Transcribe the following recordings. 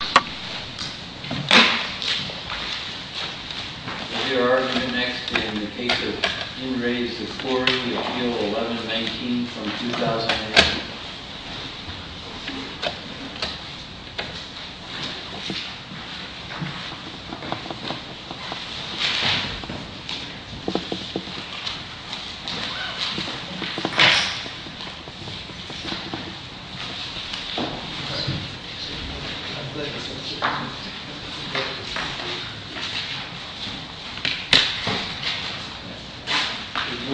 The argument next in the case of In Re Tzipori, Appeal 1119 from 2008.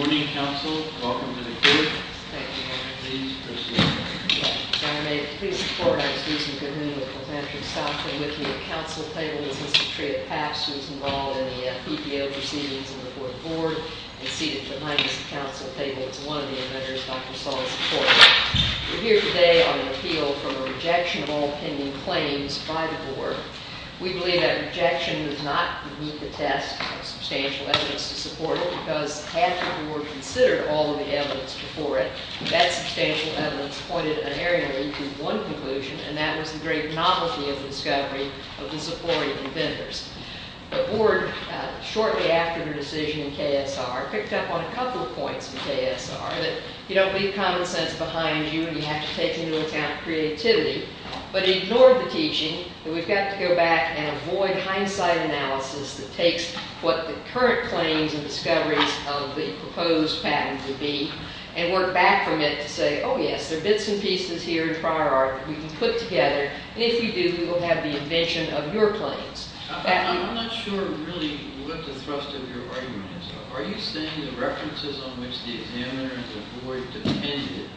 Good morning council, welcome to the court. Thank you very much. Please proceed. The board, shortly after the decision in KSR, picked up on a couple of points in KSR, that you don't leave common sense behind you, and you have to take into account creativity, but ignored the teaching that we've got to go back and avoid hindsight analysis that the current claims and discoveries of the proposed patent would be, and work back from it to say, oh yes, there are bits and pieces here in prior art that we can put together, and if we do, we will have the invention of your claims. I'm not sure, really, what the thrust of your argument is. Are you saying the references on which the examiner and the board depended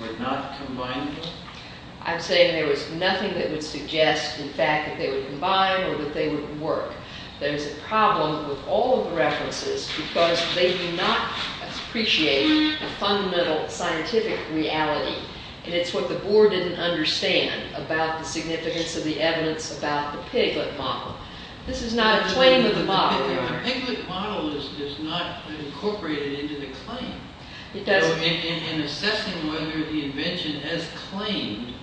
were not combinable? I'm saying there was nothing that would suggest, in fact, that they would combine or that they would work. There's a problem with all of the references because they do not appreciate a fundamental scientific reality, and it's what the board didn't understand about the significance of the evidence about the piglet model. This is not a claim of the model. The piglet model is not incorporated into the claim. It doesn't. In assessing whether the invention as claimed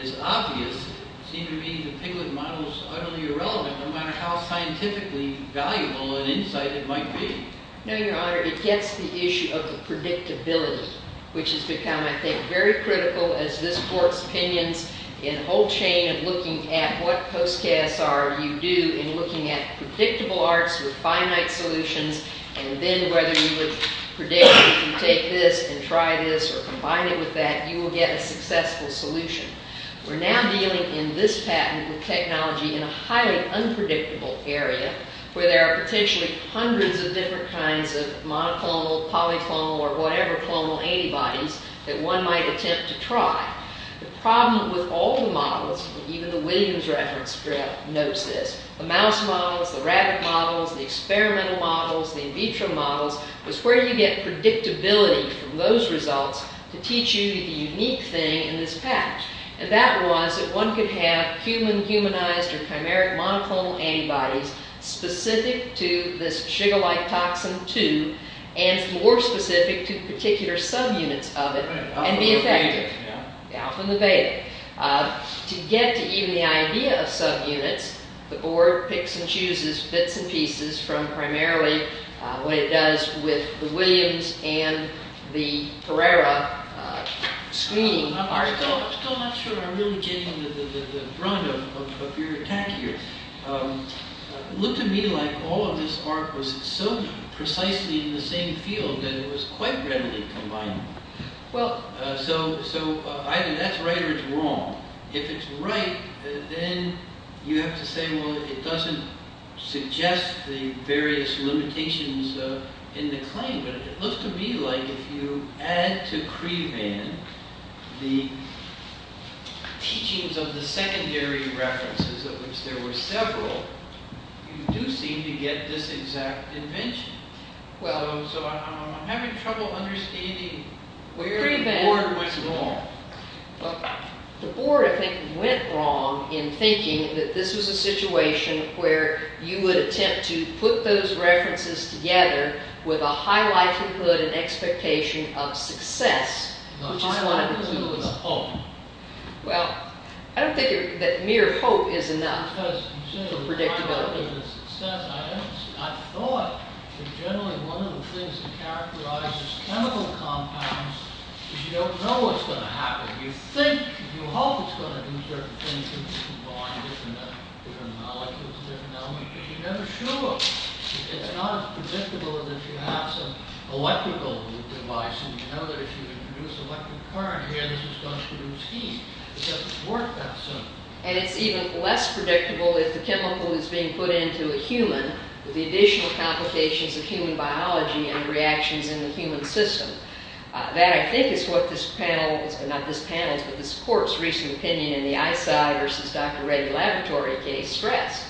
is obvious, it seems to me the piglet model is utterly irrelevant, no matter how scientifically valuable an insight it might be. No, Your Honor, it gets the issue of the predictability, which has become, I think, very critical as this court's opinions in a whole chain of looking at what post-KSR you do in looking at predictable arts with finite solutions, and then whether you would predict if you take this and try this or combine it with that, you will get a successful solution. We're now dealing in this patent with technology in a highly unpredictable area where there are potentially hundreds of different kinds of monoclonal, polyclonal, or whatever clonal antibodies that one might attempt to try. The problem with all the models, even the Williams reference script notes this, the mouse models, the rabbit models, the experimental models, the in vitro models, is where you get predictability from those results to teach you the unique thing in this patch. And that was that one could have human-humanized or chimeric monoclonal antibodies specific to this sugar-like toxin 2, and more specific to particular subunits of it, and be effective. Alpha and the beta. To get to even the idea of subunits, the board picks and chooses bits and pieces from primarily what it does with the Williams and the Ferrara scheme. I'm still not sure I'm really getting the brunt of your attack here. It looked to me like all of this art was so precisely in the same field that it was quite readily combinable. So either that's right or it's wrong. If it's right, then you have to say, well, it doesn't suggest the various limitations in the claim. But it looked to me like if you add to CREBAN the teachings of the secondary references of which there were several, you do seem to get this exact invention. So I'm having trouble understanding where the board went wrong. The board, I think, went wrong in thinking that this was a situation where you would attempt to put those references together with a high likelihood and expectation of success. A high likelihood of hope. Well, I don't think that mere hope is enough for predictability. I thought that generally one of the things that characterizes chemical compounds is you don't know what's going to happen. You think, you hope it's going to do certain things, combine different molecules, but you never show up. It's not as predictable as if you have some electrical device and you know that if you produce electric current here, this is going to produce heat. It doesn't work that soon. And it's even less predictable if the chemical is being put into a human with the additional complications of human biology and reactions in the human system. That, I think, is what this panel, not this panel, but this court's recent opinion in the ICEI versus Dr. Reddy Laboratory case stressed,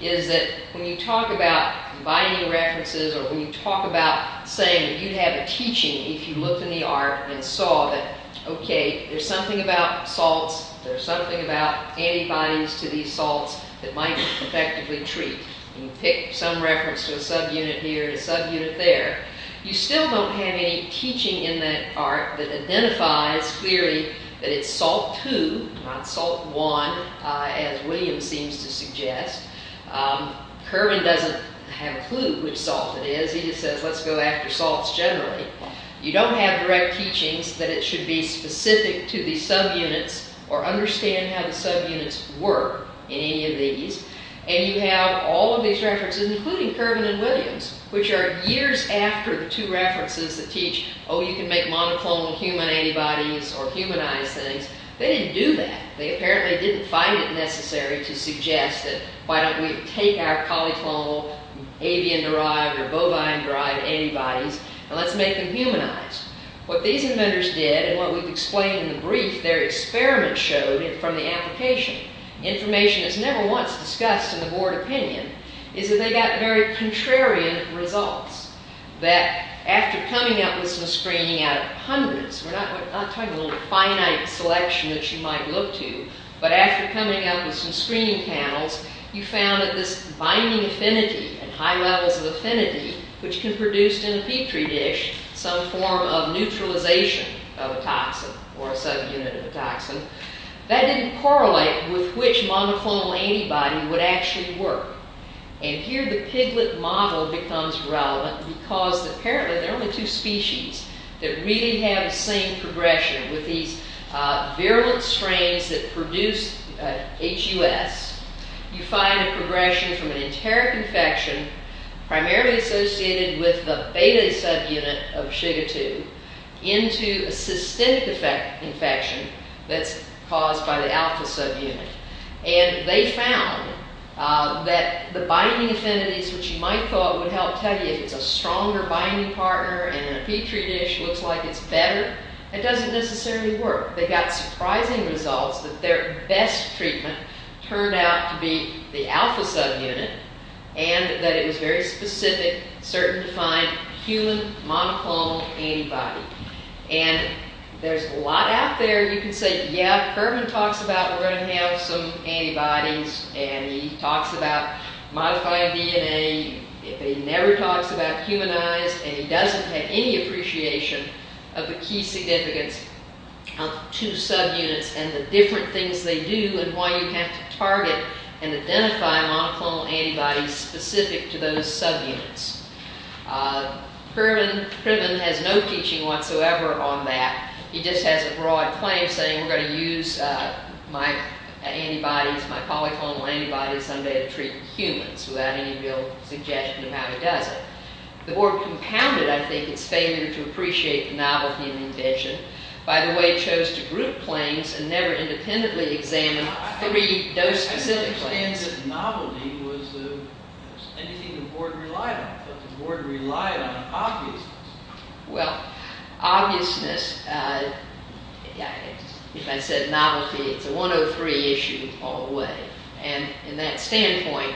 is that when you talk about combining references or when you talk about saying that you'd have a teaching if you looked in the art and saw that, okay, there's something about salts, there's something about antibodies to these salts that might be effectively treated. You pick some reference to a subunit here, a subunit there. You still don't have any teaching in that art that identifies clearly that it's salt two, not salt one, as William seems to suggest. Curban doesn't have a clue which salt it is. He just says, let's go after salts generally. You don't have direct teachings that it should be specific to the subunits or understand how the subunits work in any of these. You have all of these references, including Curban and Williams, which are years after the two references that teach, oh, you can make monoclonal human antibodies or humanize things. They didn't do that. They apparently didn't find it necessary to suggest that why don't we take our polyclonal avian-derived or bovine-derived antibodies and let's make them humanized. What these inventors did and what we've explained in the brief, their experiment showed from the application. Information that's never once discussed in the board opinion is that they got very contrarian results. That after coming up with some screening out of hundreds, we're not talking a little finite selection that you might look to, but after coming up with some screening panels, you found that this binding affinity and high levels of affinity, which can produce in a Petri dish some form of neutralization of a toxin or a subunit of a toxin, that didn't correlate with which monoclonal antibody would actually work. And here the piglet model becomes relevant because apparently there are only two species that really have the same progression with these virulent strains that produce HUS. You find a progression from an enteric infection primarily associated with the beta subunit of Shiga-2 into a systemic infection that's caused by the alpha subunit. And they found that the binding affinities, which you might thought would help tell you if it's a stronger binding partner and a Petri dish looks like it's better, it doesn't necessarily work. They got surprising results that their best treatment turned out to be the alpha subunit and that it was very specific, certain defined human monoclonal antibody. And there's a lot out there you can say, yeah, Kerman talks about we're going to have some antibodies and he talks about modifying DNA, but he never talks about humanized and he doesn't have any appreciation of the key significance of two subunits and the different things they do and why you have to target and identify monoclonal antibodies specific to those subunits. Kerman has no teaching whatsoever on that. He just has a broad claim saying we're going to use my antibodies, my polyclonal antibodies someday to treat humans without any real suggestion of how he does it. The board compounded, I think, its failure to appreciate the novelty of the invention by the way it chose to group claims and never independently examine three dose-specific claims. I don't understand that novelty was anything the board relied on. The board relied on obviousness. Well, obviousness, if I said novelty, it's a 103 issue all the way. And in that standpoint,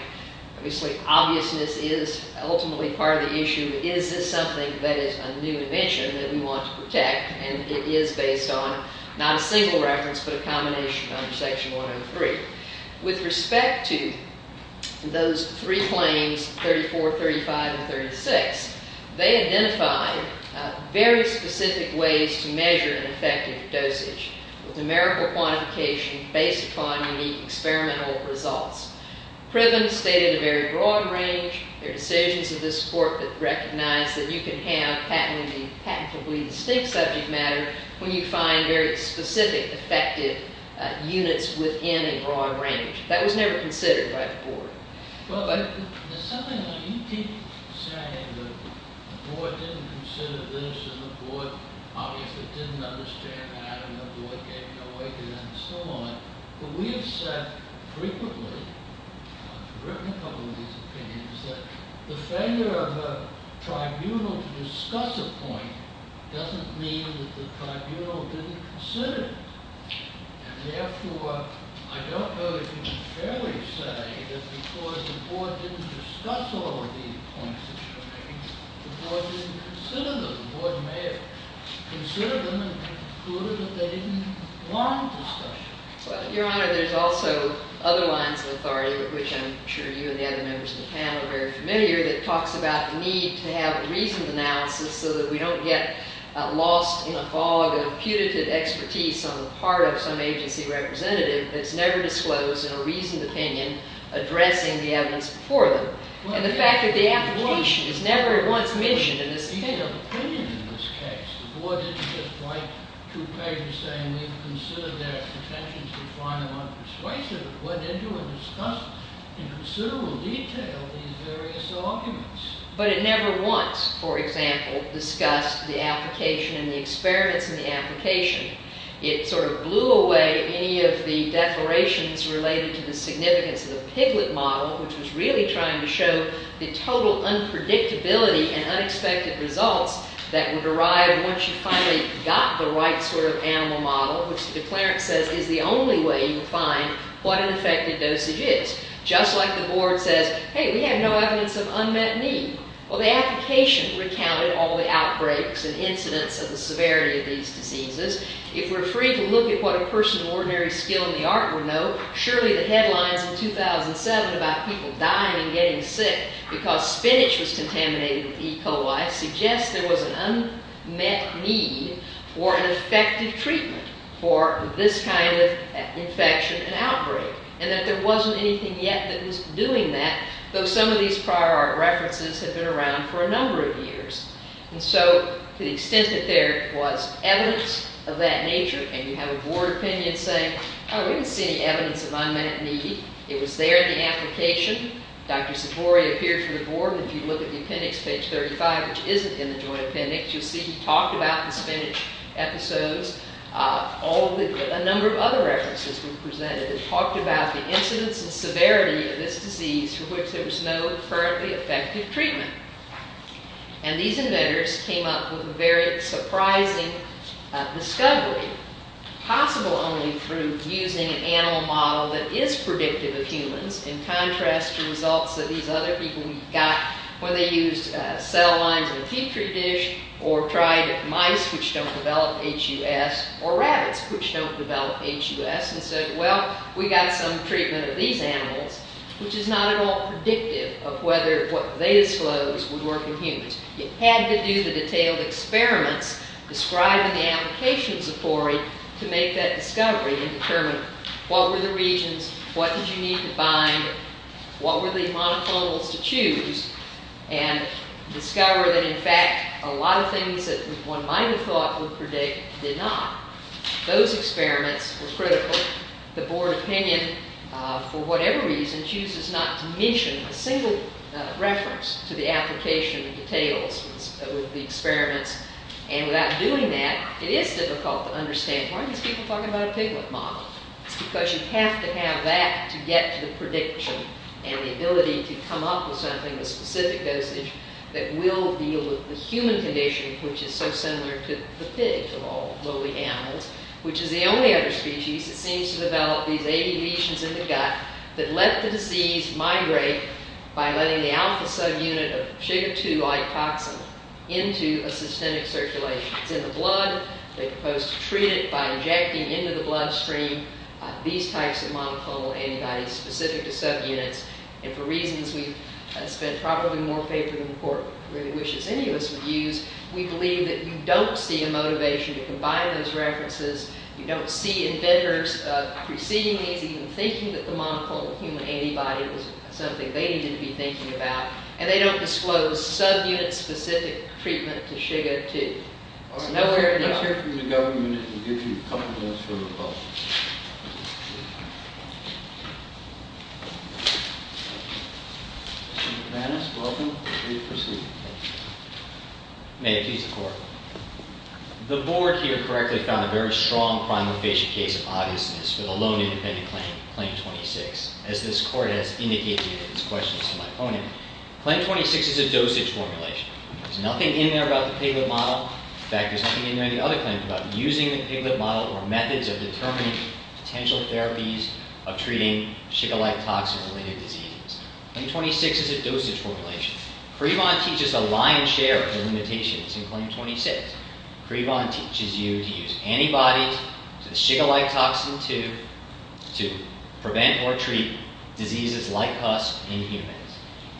obviously, obviousness is ultimately part of the issue. Is this something that is a new invention that we want to protect and it is based on not a single reference, but a combination under section 103. With respect to those three claims, 34, 35, and 36, they identified very specific ways to measure an effective dosage with numerical quantification based upon unique experimental results. Pribben stated a very broad range. There are decisions of this court that recognize that you can have patentably distinct subject matter when you find very specific effective units within a broad range. That was never considered by the board. Well, there's something about you people saying the board didn't consider this and the board obviously didn't understand that and the board gave no way to understand it. But we have said frequently, I've written a couple of these opinions, that the failure of a tribunal to discuss a point doesn't mean that the tribunal didn't consider it. And therefore, I don't know if you can fairly say that because the board didn't discuss all of these points that you're making, the board didn't consider them. The board may have considered them and concluded that they didn't want discussion. Your Honor, there's also other lines of authority, which I'm sure you and the other members of the panel are very familiar, that talks about the need to have a reasoned analysis so that we don't get lost in a fog of putative expertise on the part of some agency representative that's never disclosed in a reasoned opinion addressing the evidence before them. And the fact that the application is never once mentioned in this opinion. But it never once, for example, discussed the application and the experiments in the application. It sort of blew away any of the declarations related to the significance of the Piglet model, which was really trying to show the total unpredictability and unexpected results that would arrive once you finally got the right sort of animal model, which the declarant says is the only way you would find what an effective dosage is. Just like the board says, hey, we have no evidence of unmet need. Well, the application recounted all the outbreaks and incidents of the severity of these diseases. If we're free to look at what a person of ordinary skill in the art would know, surely the headlines in 2007 about people dying and getting sick because spinach was contaminated with E. coli suggests there was an unmet need for an effective treatment for this kind of infection and outbreak. And that there wasn't anything yet that was doing that, though some of these prior art references have been around for a number of years. And so to the extent that there was evidence of that nature, and you have a board opinion saying, oh, we didn't see any evidence of unmet need, it was there in the application. Dr. Savori appeared for the board, and if you look at the appendix, page 35, which isn't in the joint appendix, you'll see he talked about the spinach episodes. A number of other references were presented. It talked about the incidence and severity of this disease for which there was no currently effective treatment. And these inventors came up with a very surprising discovery, possible only through using an animal model that is predictive of humans in contrast to results that these other people got when they used cell lines in a petri dish or tried mice, which don't develop HUS, or rabbits, which don't develop HUS, and said, well, we got some treatment of these animals, which is not at all predictive of whether what they disclosed would work in humans. You had to do the detailed experiments described in the application of Savori to make that discovery and determine what were the regions, what did you need to bind, what were the monoclonals to choose, and discover that, in fact, a lot of things that one might have thought would predict did not. Those experiments were critical. The board opinion, for whatever reason, chooses not to mention a single reference to the application of the details of the experiments. And without doing that, it is difficult to understand why are these people talking about a piglet model? It's because you have to have that to get to the prediction and the ability to come up with something with specific dosage that will deal with the human condition, which is so similar to the pig, of all lowly animals, which is the only other species that seems to develop these 80 lesions in the gut that let the disease migrate by letting the alpha subunit of sugar-2-like toxin into a systemic circulation. It's in the blood. They propose to treat it by injecting into the bloodstream these types of monoclonal antibodies specific to subunits. And for reasons we've spent probably more paper than the court really wishes any of us would use, we believe that you don't see a motivation to combine those references. You don't see inventors preceding these even thinking that the monoclonal human antibody was something they needed to be thinking about. And they don't disclose subunit-specific treatment to sugar-2. It's nowhere to be found. Let's hear from the government and give you a couple of minutes for rebuttal. Mr. McManus, welcome. Please proceed. May it please the court. The board here correctly found a very strong primal-facial case of obviousness for the lone independent claim, Claim 26, as this court has indicated in its questions to my opponent. Claim 26 is a dosage formulation. There's nothing in there about the piglet model. In fact, there's nothing in any other claim about using the piglet model or methods of determining potential therapies of treating sugar-like toxin-related diseases. Claim 26 is a dosage formulation. Crevon teaches a lion's share of the limitations in Claim 26. Crevon teaches you to use antibodies to the sugar-like toxin 2 to prevent or treat diseases like pus in humans.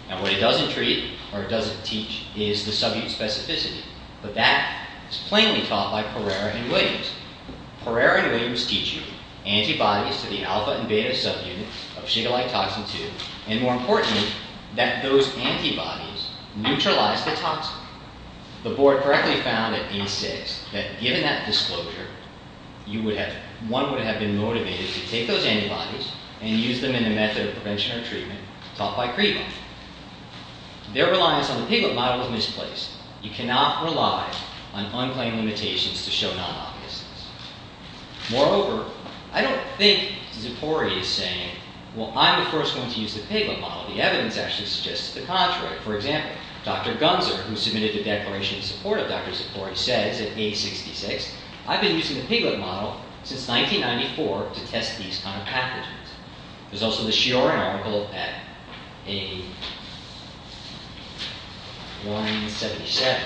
Now, what it doesn't treat or doesn't teach is the subunit specificity. But that is plainly taught by Pereira and Williams. Pereira and Williams teach you antibodies to the alpha and beta subunits of sugar-like toxin 2 and, more importantly, that those antibodies neutralize the toxin. The board correctly found at D6 that, given that disclosure, one would have been motivated to take those antibodies and use them in a method of prevention or treatment taught by Crevon. Their reliance on the piglet model is misplaced. You cannot rely on unclaimed limitations to show non-obviousness. Moreover, I don't think Zippori is saying, well, I'm the first one to use the piglet model. The evidence actually suggests the contrary. For example, Dr. Gunzer, who submitted a declaration in support of Dr. Zippori, says at A66, I've been using the piglet model since 1994 to test these kind of pathogens. There's also the Shioran article at A177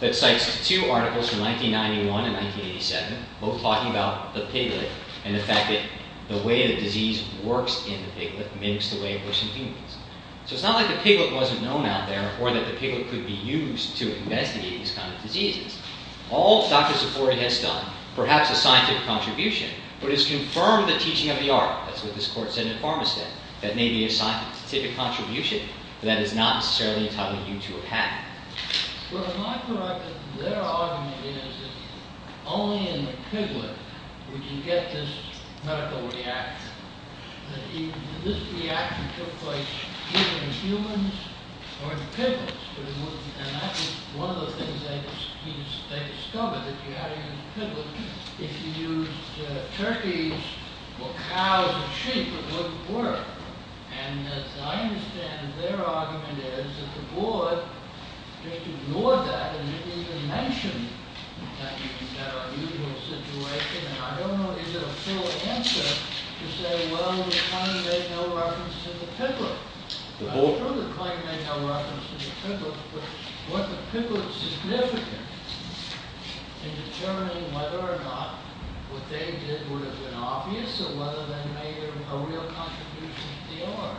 that cites two articles from 1991 and 1987, both talking about the piglet and the fact that the way the disease works in the piglet mimics the way it works in humans. So it's not like the piglet wasn't known out there or that the piglet could be used to investigate these kind of diseases. All Dr. Zippori has done, perhaps a scientific contribution, but has confirmed the teaching of the art, that's what this court said in Farmistead, that may be a scientific contribution, but that is not necessarily entitling you to a patent. Well, am I correct that their argument is that only in the piglet would you get this medical reaction? That this reaction took place either in humans or in piglets. And that was one of the things they discovered, that if you had it in the piglet, if you used turkeys or cows or sheep, it wouldn't work. And I understand that their argument is that the board ignored that and didn't even mention that you can have an unusual situation. And I don't know, is it a full answer to say, well, we're trying to make no reference to the piglet? I'm sure they're trying to make no reference to the piglet, but was the piglet significant in determining whether or not what they did would have been obvious, or whether they made a real contribution to the art?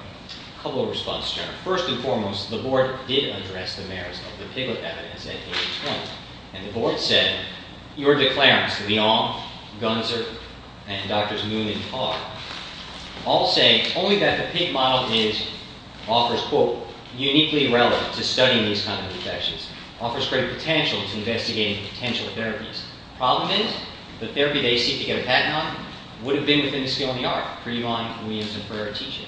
A couple of responses here. First and foremost, the board did address the merits of the piglet evidence at page 20. And the board said, your declarants, Leong, Gunzer, and Drs. Moon and Carr, all say only that the pig model is, offers, quote, uniquely relevant to studying these kind of infections. Offers great potential to investigating potential therapies. Problem is, the therapy they seek to get a patent on would have been within the scale of the art, for your mind, williams, and for your teaching.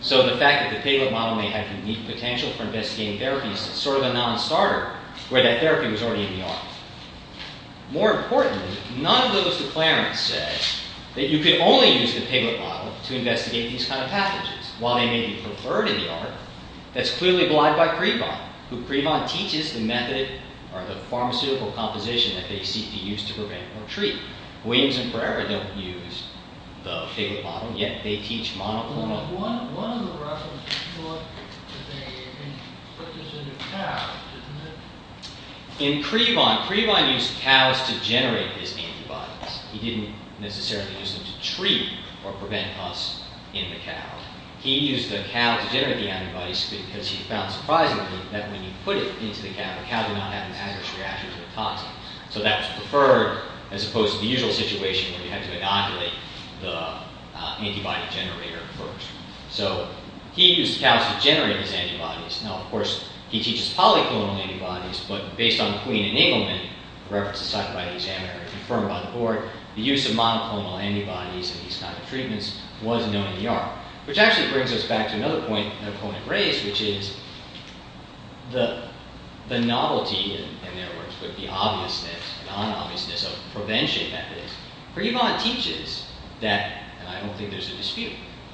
So the fact that the piglet model may have unique potential for investigating therapies is sort of a non-starter, where that therapy was already in the art. More importantly, none of those declarants said that you could only use the piglet model to investigate these kind of pathogens. While they may be preferred in the art, that's clearly blind by Crevon, who Crevon teaches the method, or the pharmaceutical composition that they seek to use to prevent or treat. Williams and Pereira don't use the piglet model, yet they teach monoclonal... In Crevon, Crevon used cows to generate his antibodies. He didn't necessarily use them to treat or prevent us in the cow. He used the cow to generate the antibodies, because he found, surprisingly, that when you put it into the cow, the cow did not have an adverse reaction to a toxin. So that was preferred, as opposed to the usual situation, where you had to inoculate the antibody generator first. So he used cows to generate his antibodies. Now, of course, he teaches polyclonal antibodies, but based on Queen and Engleman, for reference to psychobiotic examiner, and confirmed by the board, the use of monoclonal antibodies in these kind of treatments was known in the art. Which actually brings us back to another point that Cronin raised, which is the novelty, in their words, but the obviousness, non-obviousness of prevention, Prevon teaches that, and I don't think there's a dispute,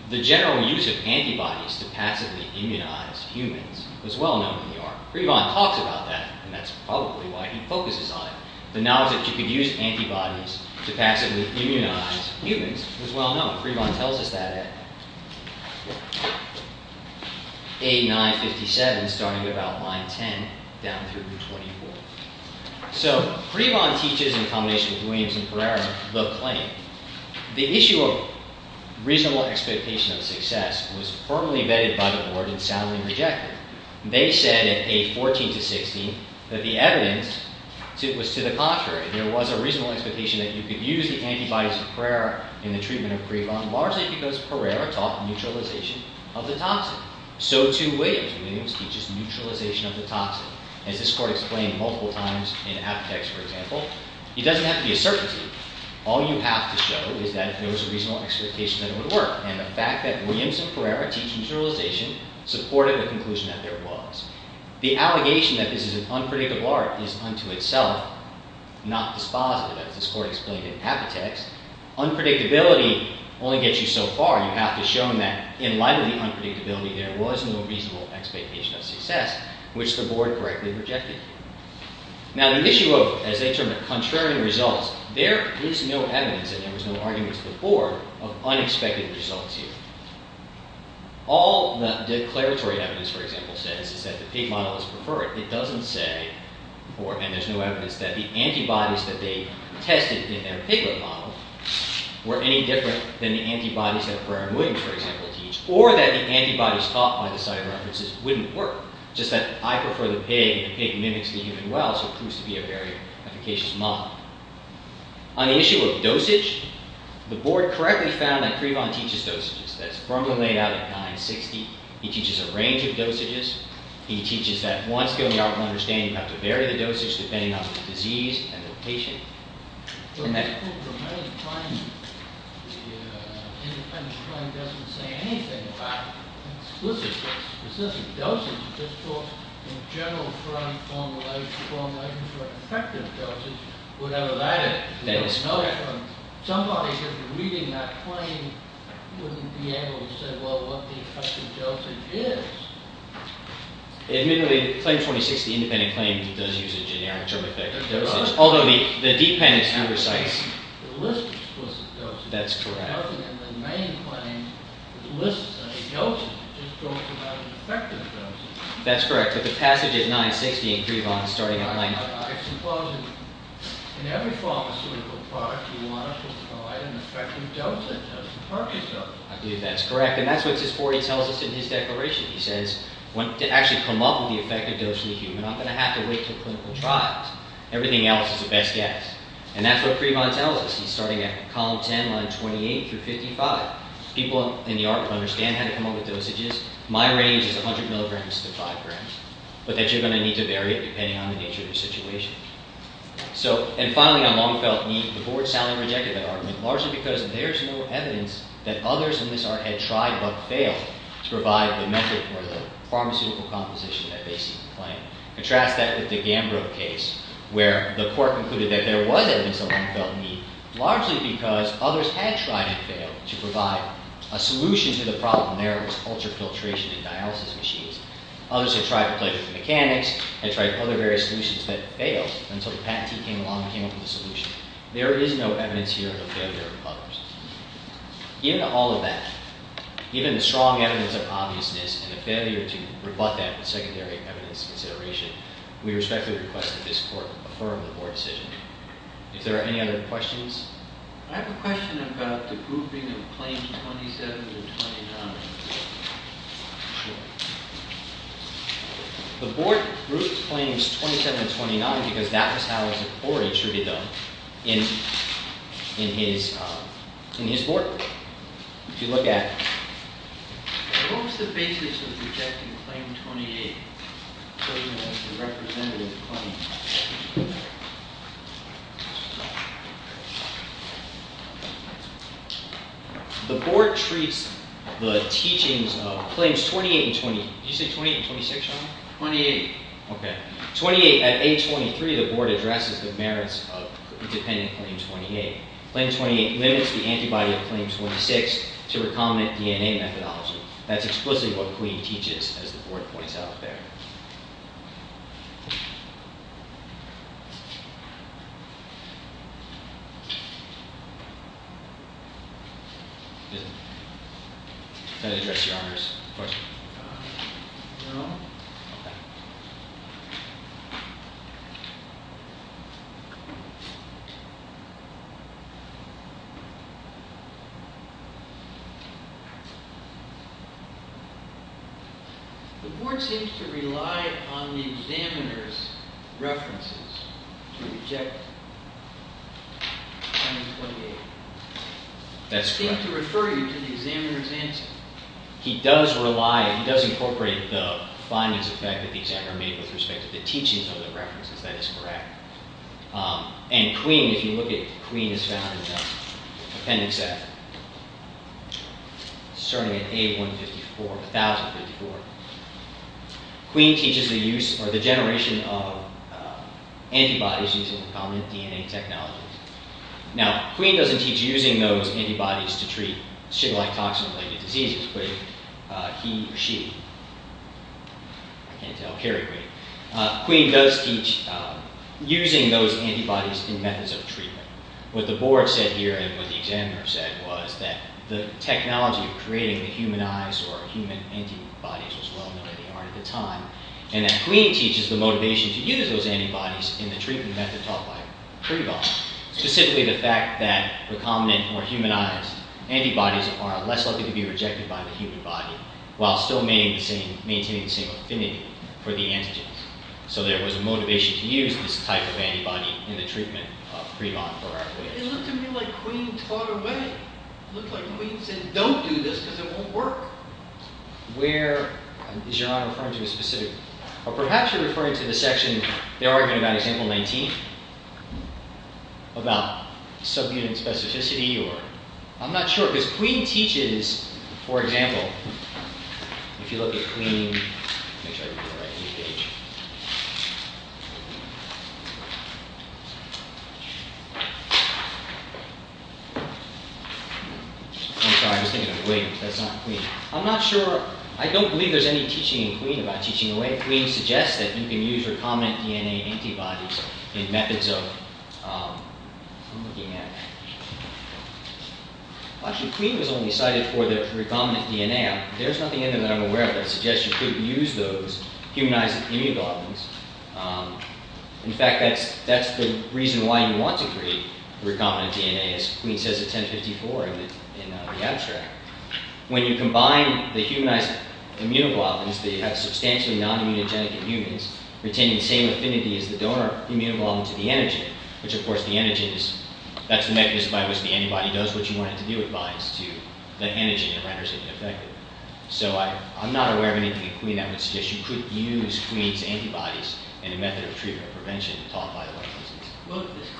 the general use of antibodies to passively immunize humans was well known in the art. Prevon talks about that, and that's probably why he focuses on it. The knowledge that you could use antibodies to passively immunize humans was well known. Prevon tells us that at 8957, starting at about line 10, down through to 24. So, Prevon teaches, in combination with Williams and Pereira, the claim. The issue of reasonable expectation of success was firmly vetted by the board and soundly rejected. They said at 814 to 816 that the evidence was to the contrary. There was a reasonable expectation that you could use the antibodies of Pereira in the treatment of Prevon, largely because Pereira taught neutralization of the toxin. So, too, Williams. Williams teaches neutralization of the toxin. As this court explained multiple times in Apitex, for example, it doesn't have to be a certainty. All you have to show is that if there was a reasonable expectation, then it would work. And the fact that Williams and Pereira teach neutralization supported the conclusion that there was. The allegation that this is an unpredictable art is unto itself not dispositive, as this court explained in Apitex. Unpredictability only gets you so far. You have to show them that in light of the unpredictability, there was no reasonable expectation of success, which the board correctly rejected. Now, the issue of, as they term it, contrarian results, there is no evidence, and there was no argument to the board, of unexpected results here. All the declaratory evidence, for example, says is that the pig model is preferred. It doesn't say, and there's no evidence, that the antibodies that they tested in their piglet model were any different than the antibodies that Pereira and Williams, for example, teach, or that the antibodies taught by the site references wouldn't work. Just that I prefer the pig, and the pig mimics the human well, so it proves to be a very efficacious model. On the issue of dosage, the board correctly found that Crevan teaches dosages. That's from the layout at 960. He teaches a range of dosages. He teaches that once you go beyond understanding, you have to vary the dosage depending on the disease and the patient. In this book, the independent claim doesn't say anything about an explicit or specific dosage. It just talks in general formulations for effective dosage, whatever that is. Somebody reading that claim wouldn't be able to say, well, what the effective dosage is. Admittedly, claim 26, the independent claim, does use a generic term, effective dosage. Although the dependent student recites the list of explicit dosages. That's correct. In the main claim, the list of dosages just talks about an effective dosage. That's correct. But the passage at 960 in Crevan is starting at 980. I suppose in every pharmaceutical product, you want to provide an effective dosage as the purpose of it. I believe that's correct. And that's what Sifori tells us in his declaration. He says, to actually come up with the effective dosage in the human, I'm going to have to wait until clinical trials. Everything else is a best guess. And that's what Crevan tells us. He's starting at column 10, line 28 through 55. People in the art will understand how to come up with dosages. My range is 100 milligrams to 5 grams. But that you're going to need to vary it depending on the nature of your situation. And finally, I long felt the board soundly rejected that argument, largely because there's no evidence that others in this art had tried but failed to provide the method or the pharmaceutical composition that they seemed to claim. Contrast that with the Gambrill case where the court concluded that there was evidence that one felt need, largely because others had tried and failed to provide a solution to the problem there of this ultra-filtration in dialysis machines. Others had tried to play with the mechanics, had tried other various solutions that failed until the patentee came along and came up with a solution. There is no evidence here of failure of others. Given all of that, given the strong evidence of obviousness and the failure to rebut that with secondary evidence consideration, we respectfully request that this court affirm the board decision. If there are any other questions? I have a question about the grouping of claims 27 and 29. Sure. The board grouped claims 27 and 29 because that was how the court attributed them in his board. If you look at... What was the basis of rejecting claim 28 as a representative claim? The board treats the teachings of claims 28 and 20... Did you say 28 and 26? 28. At age 23, the board addresses the merits of independent claim 28. Claim 28 limits the antibody of claim 26 to recombinant DNA methodology. That's explicitly what Queen teaches as the board points out there. Does that address your Honor's question? No. The board seems to rely on the examiner's references to reject claim 28. That's correct. He seems to refer you to the examiner's answer. He does rely... He does incorporate the findings that the examiner made with respect to the teachings of the references. That is correct. And Queen, if you look at... Queen is found in the appendix F starting at A1054. Queen teaches the use or the generation of antibodies using recombinant DNA technology. Now, Queen doesn't teach using those antibodies to treat Shiga-like toxin-related diseases but he or she I can't tell. Kerry, wait. Queen does teach using those antibodies in methods of treatment. What the board said here and what the examiner said was that the technology of creating the human eyes or human antibodies was well known in the art of the time and that Queen teaches the motivation to use those antibodies in the treatment method taught by Prevost, specifically the fact that antibodies are less likely to be rejected by the human body while still maintaining the same affinity for the antigens. So there was a motivation to use this type of antibody in the treatment of Prevost. It looked to me like Queen taught away. It looked like Queen said don't do this because it won't work. Where is Your Honor referring to specifically? Perhaps you're referring to the section they're arguing about example 19 about subunit specificity. I'm not sure because Queen teaches for example if you look at Queen I don't believe there's any teaching in Queen about teaching away. Queen suggests that you can use recombinant DNA antibodies in methods of I'm looking at actually Queen was only cited for the recombinant DNA. There's nothing in there that I'm aware of that suggests you could use those humanized immunoglobulins. In fact, that's the reason why you want to create recombinant DNA as Queen says at 1054 in the abstract. When you combine the humanized immunoglobulins that have substantially non-immunogenic in humans, retaining the same affinity as the donor immunoglobulin to the antigen which of course the antigen is that's the mechanism by which the antibody does what you want it to do. It binds to the antigen and renders it ineffective. I'm not aware of anything in Queen that would suggest you could use Queen's antibodies in a method of treatment or prevention taught by the White House.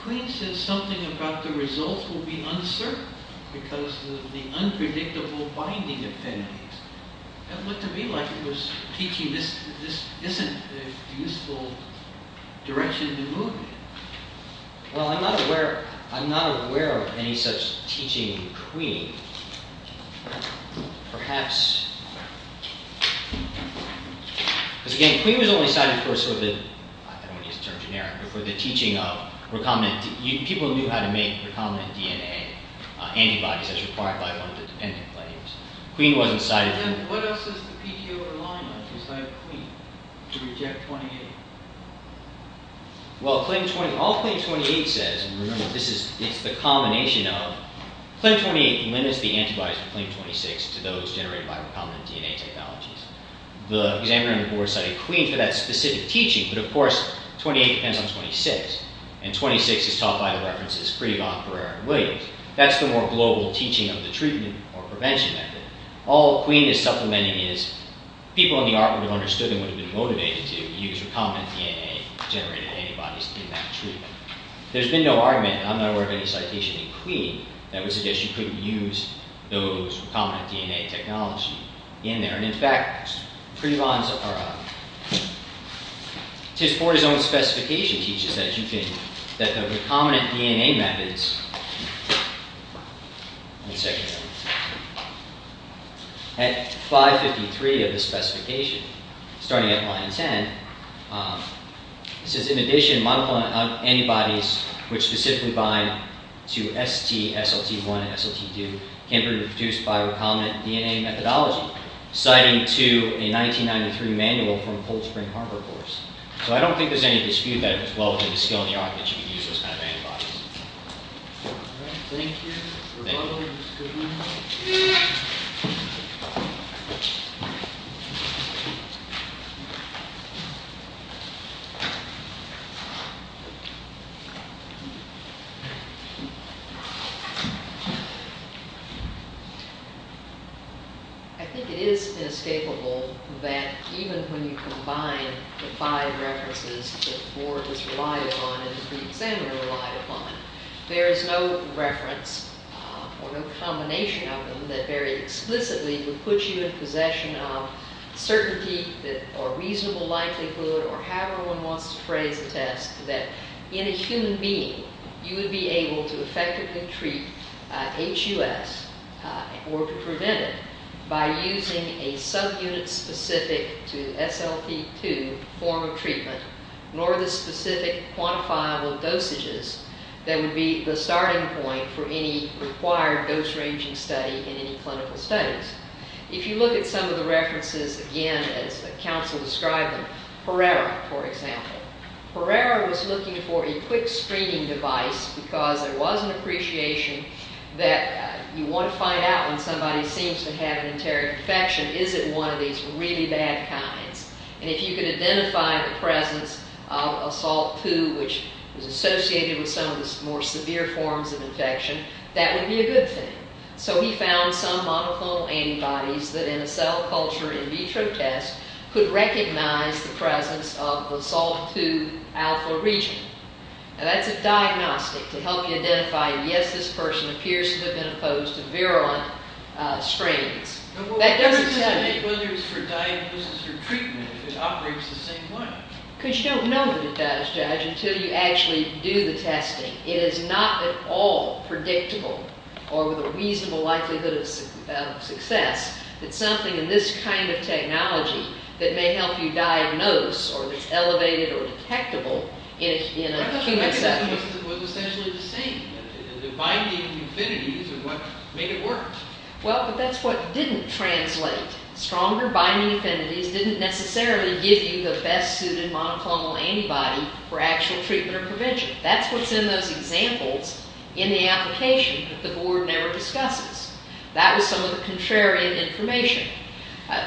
Queen says something about the results will be uncertain because of the unpredictable binding affinities. It looked to me like it was teaching this isn't a useful direction to move in. Well, I'm not aware I'm not aware of any such teaching in Queen. Perhaps because again, Queen was only cited for sort of the, I don't want to use the term generic but for the teaching of recombinant people knew how to make recombinant DNA antibodies as required by one of the dependent claims. Queen wasn't cited. And then what else does the PTO align with besides Queen to reject 28? Well, all Claim 28 says, and remember this is the combination of Claim 28 limits the antibodies of Claim 26 to those generated by recombinant DNA technologies. The examiner on the board cited Queen for that specific teaching but of course 28 depends on 26 and 26 is taught by the references Freedon, Pereira, and Williams. That's the more global teaching of the treatment or prevention method. All Queen is supplementing is people in the art would have understood and would have been motivated to use recombinant DNA generated antibodies in that treatment. There's been no argument, I'm not aware of any citation in Queen that would suggest you couldn't use those recombinant DNA technology in there and in fact Freedon's his own specification teaches that you can, that the recombinant DNA methods at 553 of the specification starting at line 10 says in addition monoclonal antibodies which specifically bind to ST, SLT1, and SLT2 can be produced by recombinant DNA methodology citing to a 1993 manual from Cold Spring Harbor course. So I don't think there's any dispute that it was well within the skill and the art that you could use those kind of antibodies. Thank you. I think it is inescapable that even when you combine the five references that Ford has relied upon and the examiner relied upon there is no reference or no combination of them that very explicitly would put you in possession of certainty or reasonable likelihood or however one wants to phrase the test that in a human being you would be able to effectively treat HUS or prevent it by using a subunit specific to SLT2 form of treatment nor the specific quantifiable dosages that would be the starting point for any required dose ranging study in any clinical studies. If you look at some of the references again as the council described them, Herrera for example. Herrera was looking for a quick screening device because there was an appreciation that you want to find out when somebody seems to have an enteric infection is it one of these really bad kinds and if you can identify the presence of SLT2 which was associated with some of the more severe forms of infection that would be a good thing. So he found some monoclonal antibodies that in a cell culture in vitro test could recognize the presence of the SLT2 alpha region. Now that's a diagnostic to help you identify yes this person appears to have been opposed to virulent strains. That doesn't say... it operates the same way. Because you don't know that it does judge until you actually do the testing. It is not at all predictable or with a reasonable likelihood of success that something in this kind of technology that may help you diagnose or that's elevated or detectable in a human cell. It was essentially the same. The binding affinities are what made it work. Well but that's what didn't translate. Stronger binding affinities didn't necessarily give you the best suited monoclonal antibody for actual treatment or prevention. That's what's in those examples in the application that the board never discusses. That was some of the contrarian information.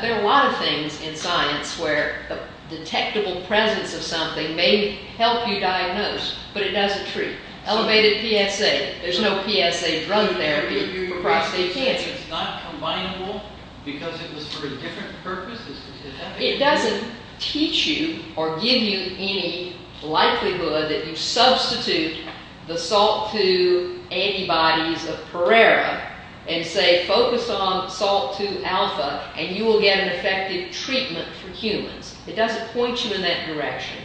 There are a lot of things in science where detectable presence of something may help you diagnose but it doesn't treat. Elevated PSA. There's no PSA drug therapy for prostate cancer. You're saying it's not combinable because it was for a different purpose? It doesn't teach you or give you any likelihood that you substitute the SALT2 antibodies of Perera and say focus on SALT2 alpha and you will get an effective treatment for humans. It doesn't point you in that direction.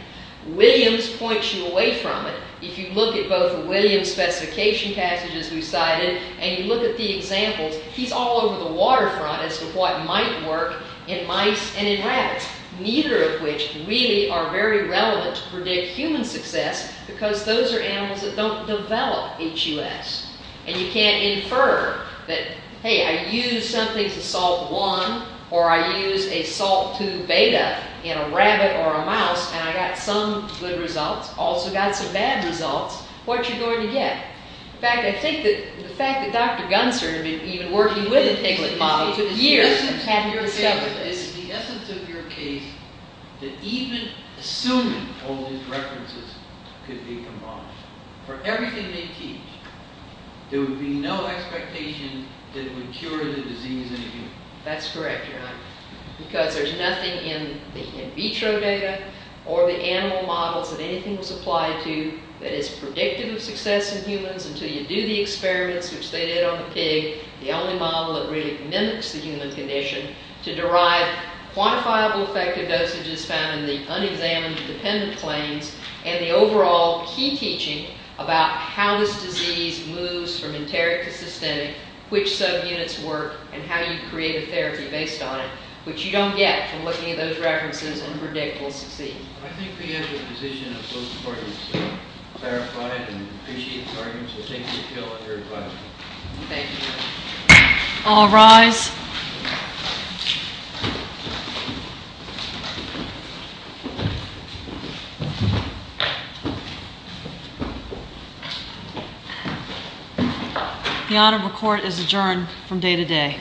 Williams points you away from it. If you look at both Williams specification passages we cited and you look at the examples he's all over the waterfront as to what might work in mice and in rabbits. Neither of which really are very relevant to predict human success because those are animals that don't develop HUS and you can't infer that hey I used something to SALT1 or I used a SALT2 beta in a rabbit or a mouse and I got some good results. Also got some bad results. What are you going to get? In fact I think that the fact that Dr. Gunster had been even working with the piglet model for years hadn't discovered this. The essence of your case is that even assuming all these references could be combined for everything they teach there would be no expectation that it would cure the disease in a human. That's correct Your Honor because there's nothing in the in vitro data or the animal models that anything was applied to that is predictive of success in humans until you do the experiments which they did on the pig. The only model that really mimics the human condition to derive quantifiable effective dosages found in the unexamined dependent planes and the overall key teaching about how this disease moves from enteric to systemic which subunits work and how you create a therapy based on it which you don't get from looking at those references and predict will succeed. I think the end of the decision of both courts is clarified and we appreciate the arguments. We'll take the appeal on your advice. Thank you. All rise. The Honorable Court is adjourned from day to day.